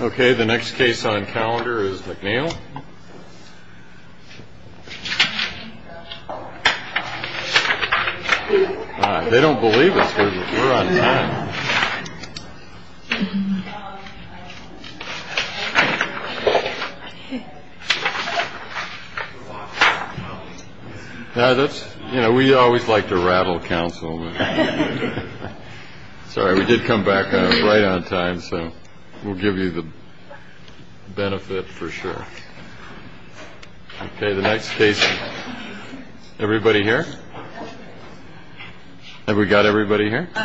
Okay, the next case on calendar is McNeil. They don't believe us. We're on time. Yeah, that's, you know, we always like to rattle counsel. Sorry, we did come back right on time. So we'll give you the benefit for sure. OK, the next case. Everybody here. And we got everybody here. Oh,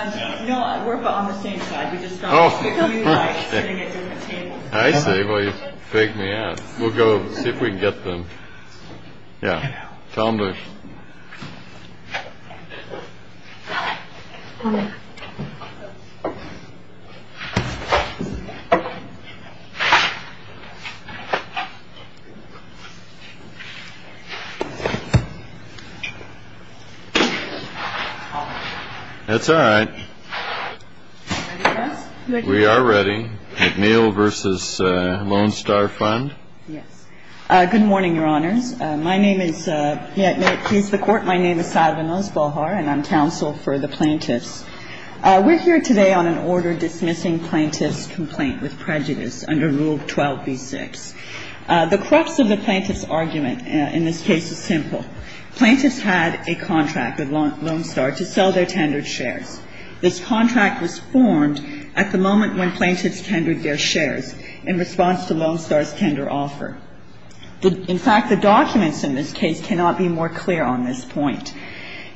I say, well, you fake me out. We'll go see if we can get them. Yeah. Tell me. That's all right. We are ready. McNeil v. Lone Star Fund. Yes. Good morning, Your Honors. My name is, may it please the Court. My name is Salva Nosbahar, and I'm counsel for the plaintiffs. We're here today on an order dismissing plaintiff's complaint with prejudice under Rule 12b-6. The crux of the plaintiff's argument in this case is simple. Plaintiffs had a contract with Lone Star to sell their tendered shares. This contract was formed at the moment when plaintiffs tendered their shares in response to Lone Star's tender offer. In fact, the documents in this case cannot be more clear on this point.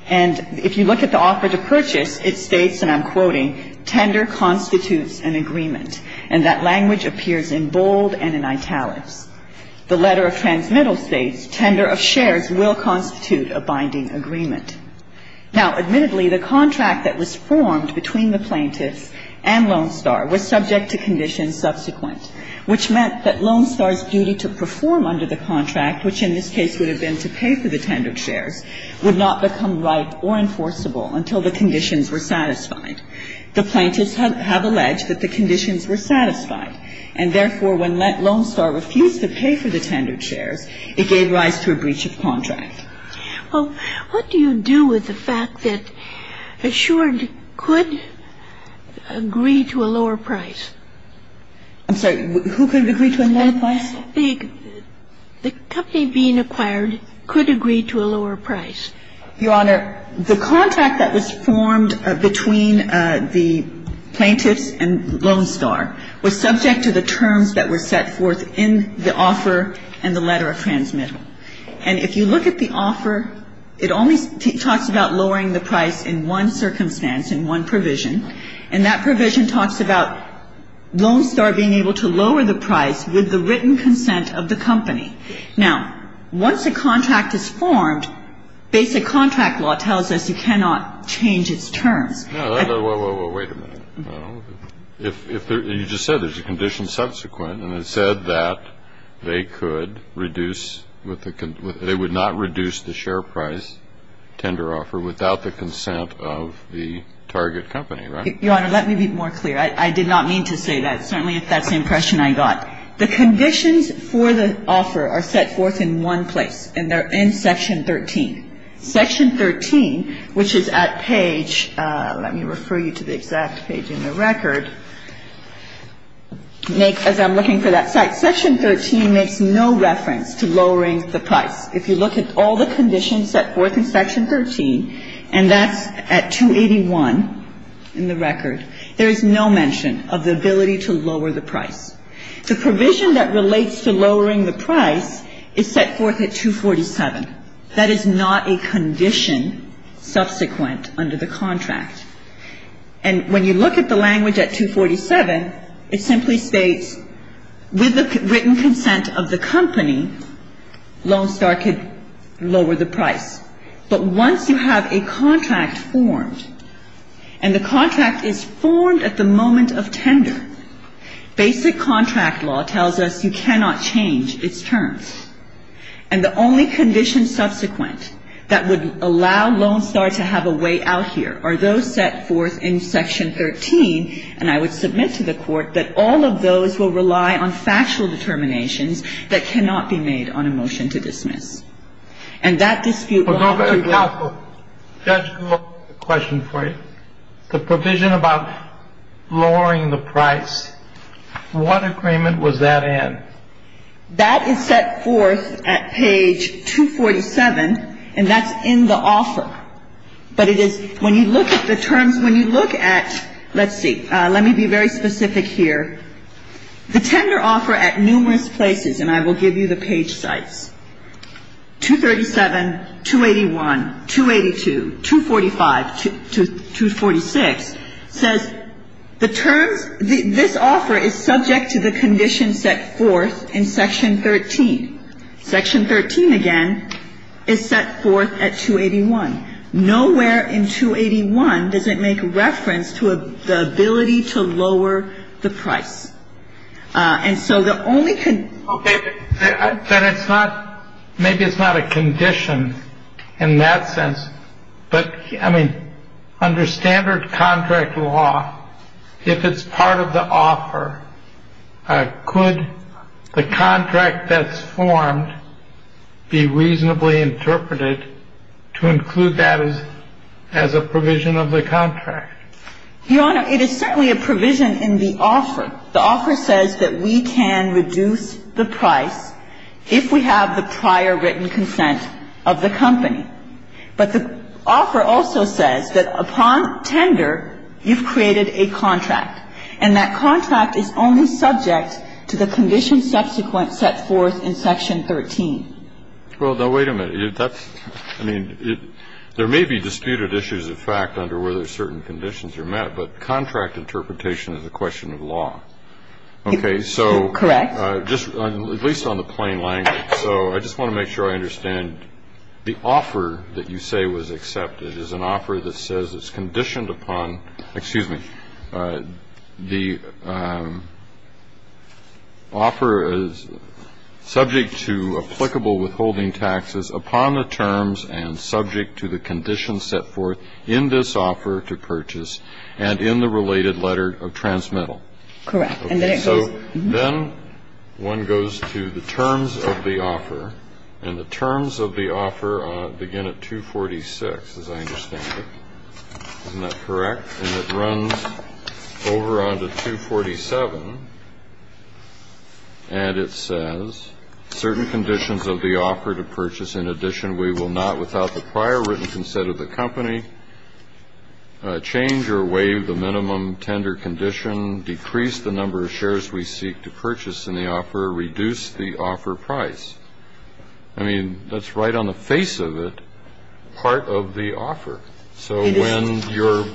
And if you look at the offer to purchase, it states, and I'm quoting, tender constitutes an agreement, and that language appears in bold and in italics. The letter of transmittal states, tender of shares will constitute a binding agreement. Now, admittedly, the contract that was formed between the plaintiffs and Lone Star was subject to conditions subsequent, which meant that Lone Star's duty to perform under the contract, which in this case would have been to pay for the tendered shares, would not become right or enforceable until the conditions were satisfied. The plaintiffs have alleged that the conditions were satisfied, and therefore when Lone Star refused to pay for the tendered shares, it gave rise to a breach of contract. Well, what do you do with the fact that Assured could agree to a lower price? I'm sorry. Who could agree to a lower price? The company being acquired could agree to a lower price. Your Honor, the contract that was formed between the plaintiffs and Lone Star was subject to the terms that were set forth in the offer and the letter of transmittal. And if you look at the offer, it only talks about lowering the price in one circumstance, in one provision. And that provision talks about Lone Star being able to lower the price with the written consent of the company. Now, once a contract is formed, basic contract law tells us you cannot change its terms. Well, wait a minute. You just said there's a condition subsequent, and it said that they could reduce, they would not reduce the share price tender offer without the consent of the target company, right? Your Honor, let me be more clear. I did not mean to say that, certainly if that's the impression I got. The conditions for the offer are set forth in one place, and they're in Section 13. Section 13, which is at page, let me refer you to the exact page in the record, makes, as I'm looking for that site, Section 13 makes no reference to lowering the price. If you look at all the conditions set forth in Section 13, and that's at 281 in the record, there is no mention of the ability to lower the price. The provision that relates to lowering the price is set forth at 247. That is not a condition subsequent under the contract. And when you look at the language at 247, it simply states with the written consent of the company, Lone Star could lower the price. But once you have a contract formed, and the contract is formed at the moment of tender, basic contract law tells us you cannot change its terms. And the only condition subsequent that would allow Lone Star to have a way out here are those set forth in Section 13. And I would submit to the Court that all of those will rely on factual determinations that cannot be made on a motion to dismiss. And that dispute will have to go. Judge, I have a question for you. The provision about lowering the price, what agreement was that in? That is set forth at page 247, and that's in the offer. But it is, when you look at the terms, when you look at, let's see, let me be very specific here. The tender offer at numerous places, and I will give you the page sites, 237, 281, 282, 245, 246, says the terms, this offer is subject to the condition set forth in Section 13. Section 13, again, is set forth at 281. Nowhere in 281 does it make reference to the ability to lower the price. And so the only condition. Okay. But it's not, maybe it's not a condition in that sense. But, I mean, under standard contract law, if it's part of the offer, could the contract that's formed be reasonably interpreted to include that as a provision of the contract? Your Honor, it is certainly a provision in the offer. The offer says that we can reduce the price if we have the prior written consent of the company. But the offer also says that upon tender, you've created a contract. And that contract is only subject to the condition subsequent set forth in Section 13. Well, now, wait a minute. That's, I mean, there may be disputed issues of fact under whether certain conditions are met. But contract interpretation is a question of law. Okay. So. Correct. At least on the plain language. So I just want to make sure I understand. The offer that you say was accepted is an offer that says it's conditioned upon, excuse me, the offer is subject to applicable withholding taxes upon the terms and subject to the conditions set forth in this offer to purchase and in the related letter of transmittal. Correct. And then it goes. So then one goes to the terms of the offer. And the terms of the offer begin at 246, as I understand it. Isn't that correct? And it runs over onto 247. And it says certain conditions of the offer to purchase. In addition, we will not, without the prior written consent of the company, change or waive the minimum tender condition, decrease the number of shares we seek to purchase in the offer, reduce the offer price. I mean, that's right on the face of it, part of the offer. So when your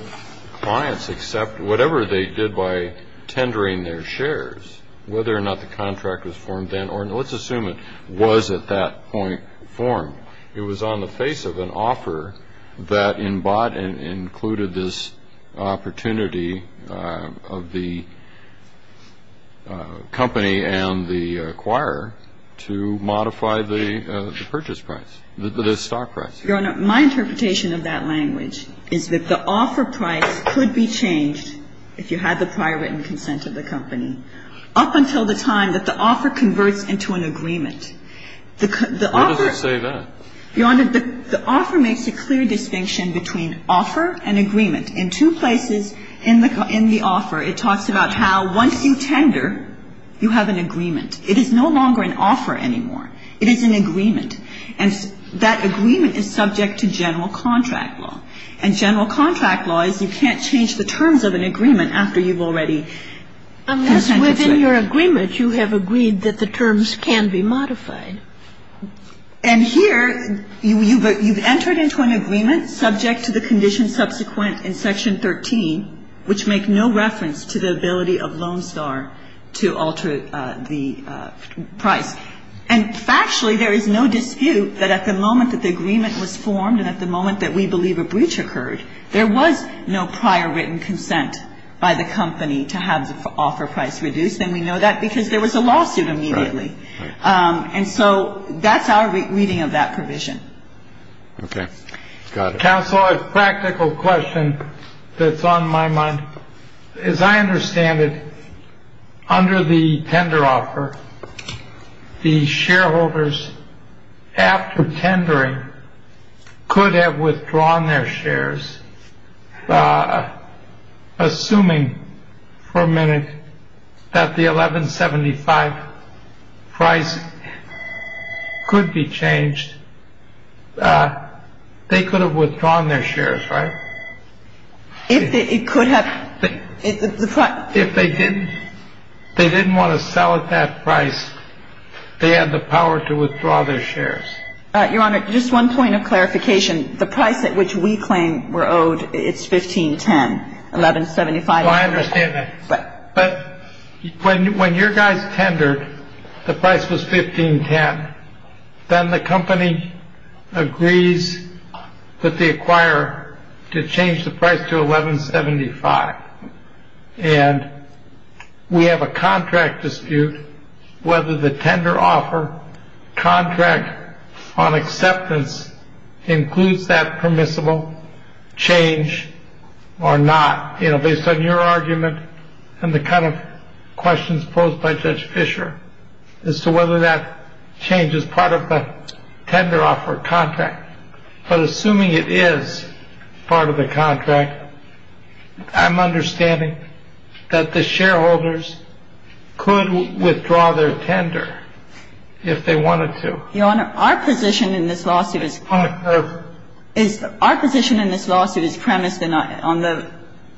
clients accept whatever they did by tendering their shares, whether or not the contract was formed then, or let's assume it was at that point formed, it was on the face of an offer that included this opportunity of the company and the acquirer to modify the purchase price, the stock price. Your Honor, my interpretation of that language is that the offer price could be changed if you had the prior written consent of the company up until the time that the offer converts into an agreement. The offer. Why does it say that? Your Honor, the offer makes a clear distinction between offer and agreement. In two places in the offer, it talks about how once you tender, you have an agreement. It is no longer an offer anymore. It is an agreement. And that agreement is subject to general contract law. And general contract law is you can't change the terms of an agreement after you've already consented to it. And that's within your agreement. You have agreed that the terms can be modified. And here, you've entered into an agreement subject to the conditions subsequent in Section 13, which make no reference to the ability of Loan Star to alter the price. And factually, there is no dispute that at the moment that the agreement was formed and at the moment that we believe a breach occurred, there was no prior written consent by the company to have the offer price reduced. And we know that because there was a lawsuit immediately. And so that's our reading of that provision. Okay. Got it. Counsel, a practical question that's on my mind. As I understand it, under the tender offer, the shareholders after tendering could have withdrawn their shares. Assuming for a minute that the 1175 price could be changed, they could have withdrawn their shares, right? It could have. If they didn't want to sell at that price, they had the power to withdraw their shares. Your Honor, just one point of clarification. The price at which we claim we're owed, it's 1510, 1175. Oh, I understand that. But when your guys tendered, the price was 1510. Then the company agrees that they acquire to change the price to 1175. And we have a contract dispute whether the tender offer contract on acceptance includes that permissible change or not, based on your argument and the kind of questions posed by Judge Fisher as to whether that change is part of the tender offer contract. But assuming it is part of the contract, I'm understanding that the shareholders could withdraw their tender if they wanted to. Your Honor, our position in this lawsuit is premised on the ----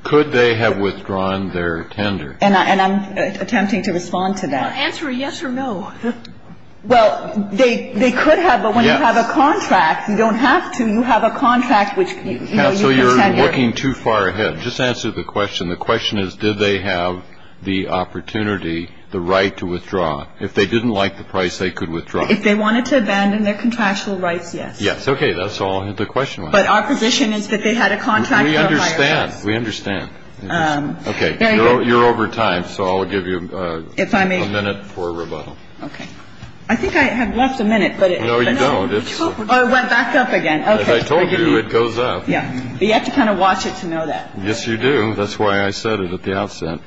Could they have withdrawn their tender? And I'm attempting to respond to that. Well, answer a yes or no. Well, they could have. But when you have a contract, you don't have to. You have a contract which, you know, you can tender. Counsel, you're looking too far ahead. Just answer the question. The question is, did they have the opportunity, the right to withdraw? If they didn't like the price, they could withdraw. If they wanted to abandon their contractual rights, yes. Yes. Okay. That's all the question was. But our position is that they had a contract for a higher price. We understand. We understand. Okay. You're over time. So I'll give you a minute for rebuttal. Okay. I think I have left a minute. No, you don't. Oh, it went back up again. Okay. As I told you, it goes up. Yeah. But you have to kind of watch it to know that. Yes, you do. That's why I said it at the outset.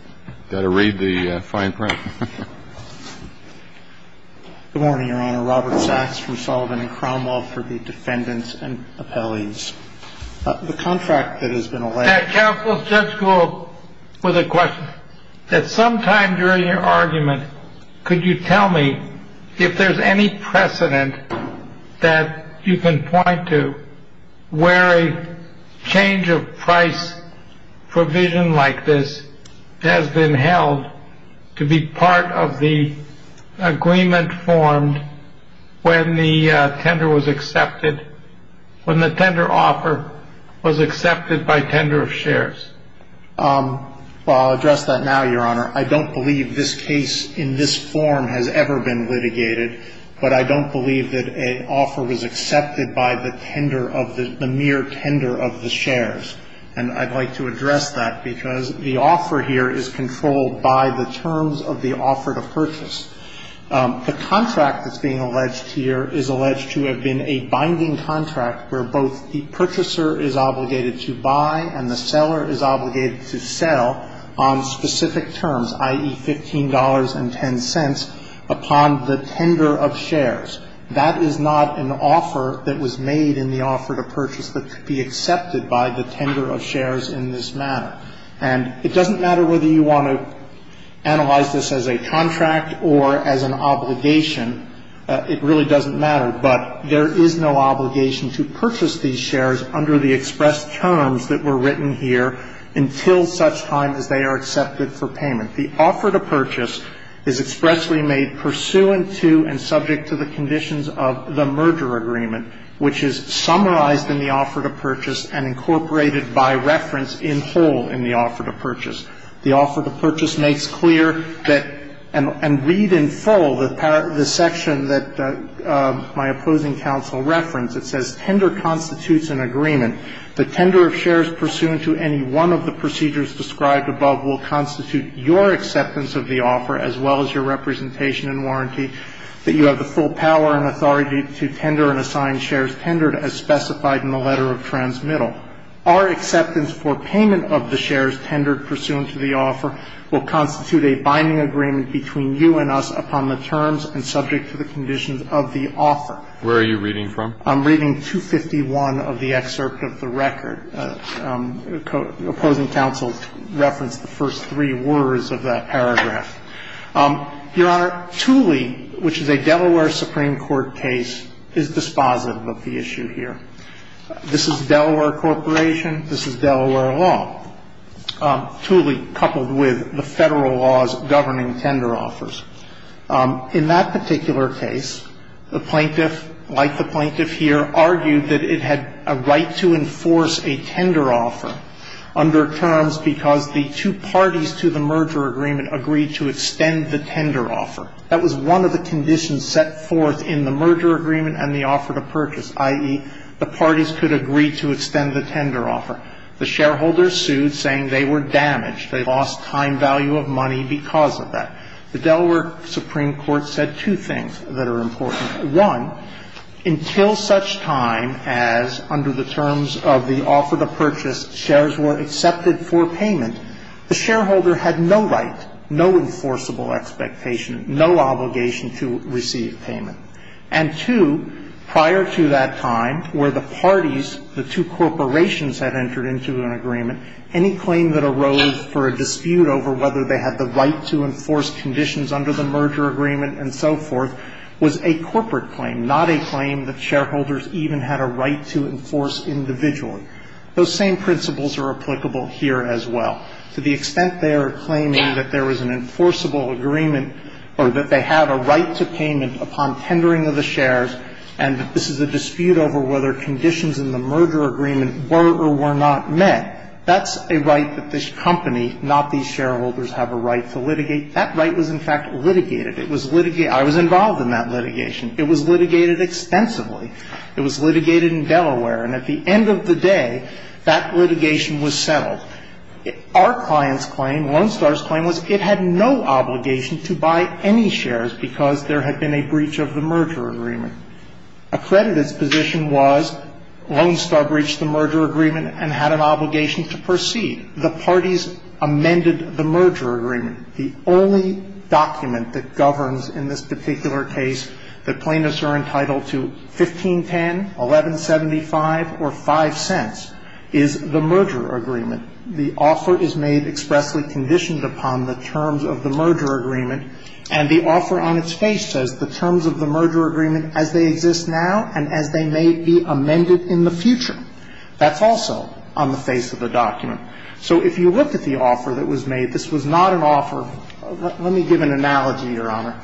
Got to read the fine print. Good morning, Your Honor. Robert Sachs from Sullivan and Cromwell for the defendants and appellees. The contract that has been allowed ---- Counsel, let's just go with a question. At some time during your argument, could you tell me if there's any precedent that you can point to where a change of price provision like this has been held to be part of the agreement formed when the tender was accepted, when the tender offer was accepted by tender of shares? Well, I'll address that now, Your Honor. I don't believe this case in this form has ever been litigated, but I don't believe that an offer was accepted by the tender of the ---- the mere tender of the shares. And I'd like to address that because the offer here is controlled by the terms of the offer to purchase. The contract that's being alleged here is alleged to have been a binding contract where both the purchaser is obligated to buy and the seller is obligated to sell on specific terms, i.e., $15.10 upon the tender of shares. That is not an offer that was made in the offer to purchase that could be accepted by the tender of shares in this manner. And it doesn't matter whether you want to analyze this as a contract or as an obligation. It really doesn't matter. But there is no obligation to purchase these shares under the express terms that were written here until such time as they are accepted for payment. The offer to purchase is expressly made pursuant to and subject to the conditions of the merger agreement, which is summarized in the offer to purchase and incorporated by reference in whole in the offer to purchase. The offer to purchase makes clear that ---- and read in full the section that my opposing counsel referenced. It says, Where are you reading from? I'm reading 251 of the excerpt of the record. Opposing counsel referenced the first three words of that paragraph. Your Honor, Tooley, which is a Delaware Supreme Court case, is dispositive of the issue here. This is Delaware Corporation. This is Delaware law. Tooley, coupled with the Federal laws governing tender offers. In that particular case, the plaintiff, like the plaintiff here, argued that it had a right to enforce a tender offer under terms because the two parties to the merger agreement agreed to extend the tender offer. That was one of the conditions set forth in the merger agreement and the offer to purchase, i.e., the parties could agree to extend the tender offer. The shareholders sued, saying they were damaged. They lost time value of money because of that. The Delaware Supreme Court said two things that are important. One, until such time as under the terms of the offer to purchase, shares were accepted for payment. The shareholder had no right, no enforceable expectation, no obligation to receive payment. And two, prior to that time where the parties, the two corporations, had entered into an agreement, any claim that arose for a dispute over whether they had the right to enforce conditions under the merger agreement and so forth was a corporate claim, not a claim that shareholders even had a right to enforce individually. Those same principles are applicable here as well. To the extent they are claiming that there was an enforceable agreement or that they had a right to payment upon tendering of the shares and that this is a dispute over whether conditions in the merger agreement were or were not met, that's a right that this company, not these shareholders, have a right to litigate. That right was, in fact, litigated. It was litigated. I was involved in that litigation. It was litigated extensively. It was litigated in Delaware. And at the end of the day, that litigation was settled. Our client's claim, Lone Star's claim, was it had no obligation to buy any shares because there had been a breach of the merger agreement. Accredited's position was Lone Star breached the merger agreement and had an obligation to proceed. The parties amended the merger agreement. The only document that governs in this particular case that plaintiffs are entitled to 1510, 1175, or 5 cents is the merger agreement. The offer is made expressly conditioned upon the terms of the merger agreement, and the offer on its face says the terms of the merger agreement as they exist now and as they may be amended in the future. That's also on the face of the document. So if you looked at the offer that was made, this was not an offer. Let me give an analogy, Your Honor.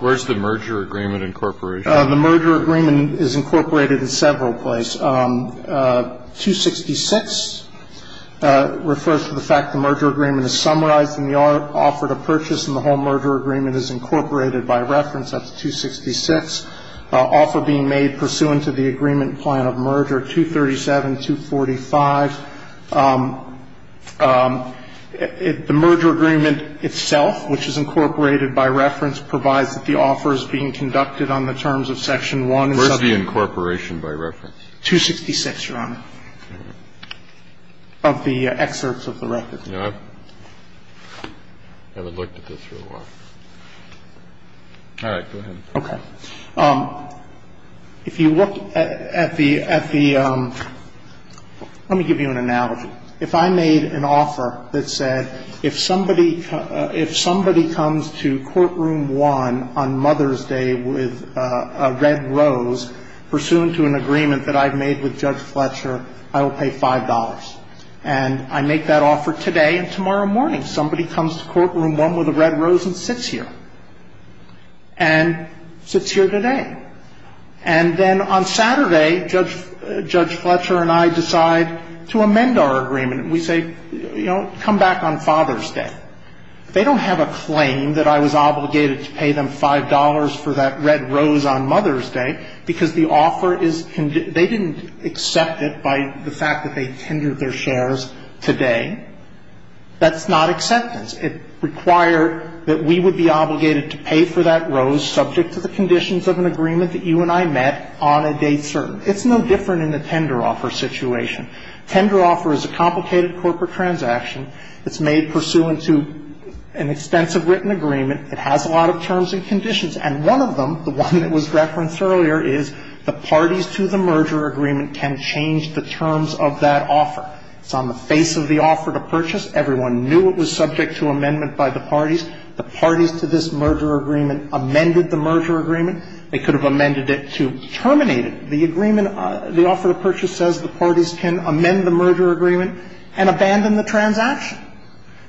Where's the merger agreement incorporation? The merger agreement is incorporated in several places. 266 refers to the fact the merger agreement is summarized in the offer to purchase and the whole merger agreement is incorporated by reference. That's 266. Offer being made pursuant to the agreement plan of merger, 237, 245. The merger agreement itself, which is incorporated by reference, provides that the offer is being conducted on the terms of Section 1. Where's the incorporation by reference? 266, Your Honor, of the excerpts of the record. I haven't looked at this for a while. All right. Go ahead. Okay. If you look at the ‑‑ let me give you an analogy. If I made an offer that said if somebody comes to Courtroom 1 on Mother's Day with a red rose pursuant to an agreement that I've made with Judge Fletcher, I will pay $5. And I make that offer today and tomorrow morning. Somebody comes to Courtroom 1 with a red rose and sits here. And sits here today. And then on Saturday, Judge Fletcher and I decide to amend our agreement. We say, you know, come back on Father's Day. They don't have a claim that I was obligated to pay them $5 for that red rose on Mother's Day because the offer is ‑‑ they didn't accept it by the fact that they tendered their shares today. That's not acceptance. It required that we would be obligated to pay for that rose subject to the conditions of an agreement that you and I met on a date served. It's no different in the tender offer situation. Tender offer is a complicated corporate transaction. It's made pursuant to an extensive written agreement. It has a lot of terms and conditions. And one of them, the one that was referenced earlier, is the parties to the merger agreement can change the terms of that offer. It's on the face of the offer to purchase. Everyone knew it was subject to amendment by the parties. The parties to this merger agreement amended the merger agreement. They could have amended it to terminate it. The agreement, the offer to purchase says the parties can amend the merger agreement and abandon the transaction.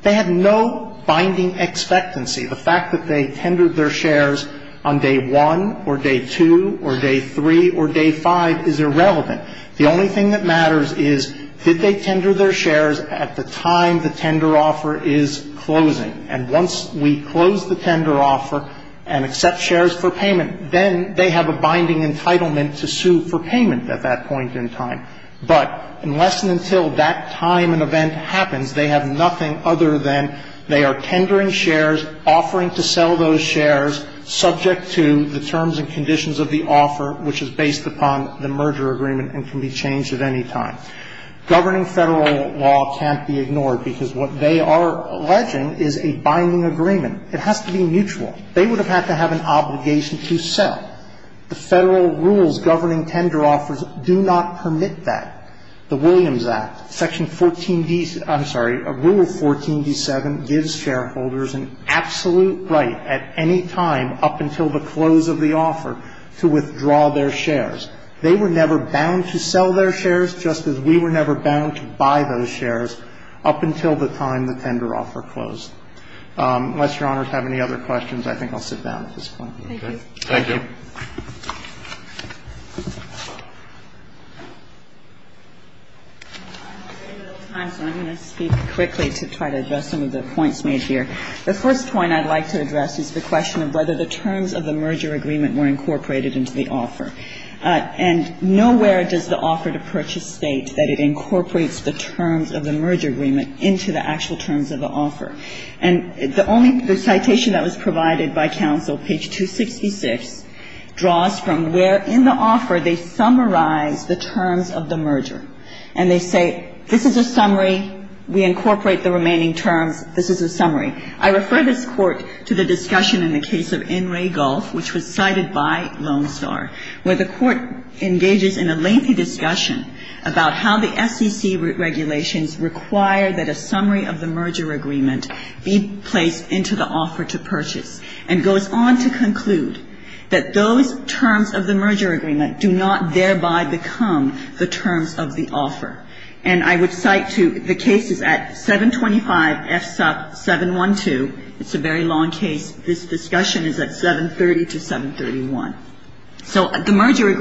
They had no binding expectancy. The fact that they tendered their shares on day one or day two or day three or day five is irrelevant. The only thing that matters is did they tender their shares at the time the tender offer is closing. And once we close the tender offer and accept shares for payment, then they have a binding entitlement to sue for payment at that point in time. But unless and until that time and event happens, they have nothing other than they are tendering shares, offering to sell those shares, subject to the terms and conditions of the offer, which is based upon the merger agreement and can be changed at any time. Governing Federal law can't be ignored because what they are alleging is a binding agreement. It has to be mutual. They would have had to have an obligation to sell. The Federal rules governing tender offers do not permit that. The Williams Act, Section 14D – I'm sorry. Rule 14d7 gives shareholders an absolute right at any time up until the close of the offer to withdraw their shares. They were never bound to sell their shares just as we were never bound to buy those shares up until the time the tender offer closed. Unless Your Honors have any other questions, I think I'll sit down at this point. Thank you. I'm going to speak quickly to try to address some of the points made here. The first point I'd like to address is the question of whether the terms of the merger agreement were incorporated into the offer. And nowhere does the offer to purchase state that it incorporates the terms of the merger agreement into the actual terms of the offer. And the only – the citation that was provided by counsel, page 266, draws from where in the offer they summarize the terms of the merger. And they say, this is a summary. We incorporate the remaining terms. This is a summary. I refer this Court to the discussion in the case of N. Ray Gulf, which was cited by Lone Star, where the Court engages in a lengthy discussion about how the SEC regulations require that a summary of the merger agreement be placed into the offer to purchase and goes on to conclude that those terms of the merger agreement do not thereby become the terms of the offer. And I would cite to the cases at 725 FSUP 712. It's a very long case. This discussion is at 730 to 731. And it's a very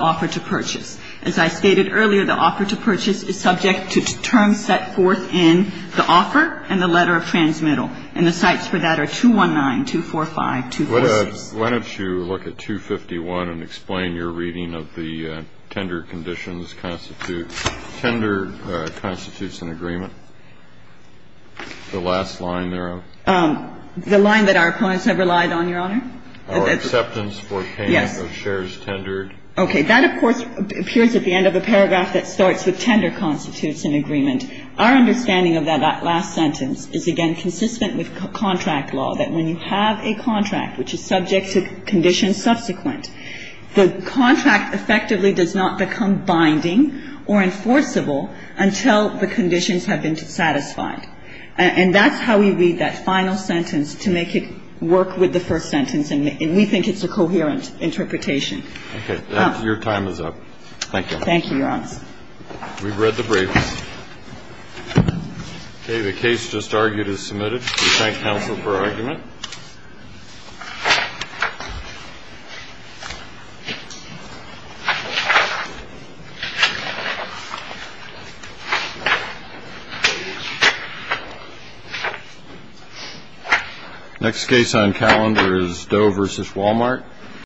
long case. As I stated earlier, the offer to purchase is subject to terms set forth in the offer and the letter of transmittal. And the cites for that are 219, 245, 246. Kennedy. Why don't you look at 251 and explain your reading of the tender conditions constitute – tender constitutes an agreement? The line that our opponents have relied on, Your Honor? Our acceptance for payment of shares tendered. Okay. That, of course, appears at the end of the paragraph that starts with tender constitutes an agreement. Our understanding of that last sentence is, again, consistent with contract law, that when you have a contract which is subject to conditions subsequent, the contract effectively does not become binding or enforceable until the conditions have been satisfied. And that's how we read that final sentence to make it work with the first sentence. And we think it's a coherent interpretation. Okay. Your time is up. Thank you. Thank you, Your Honor. We've read the brief. Okay. The case just argued is submitted. We thank counsel for argument. Next case on calendar is Doe v. Wal-Mart.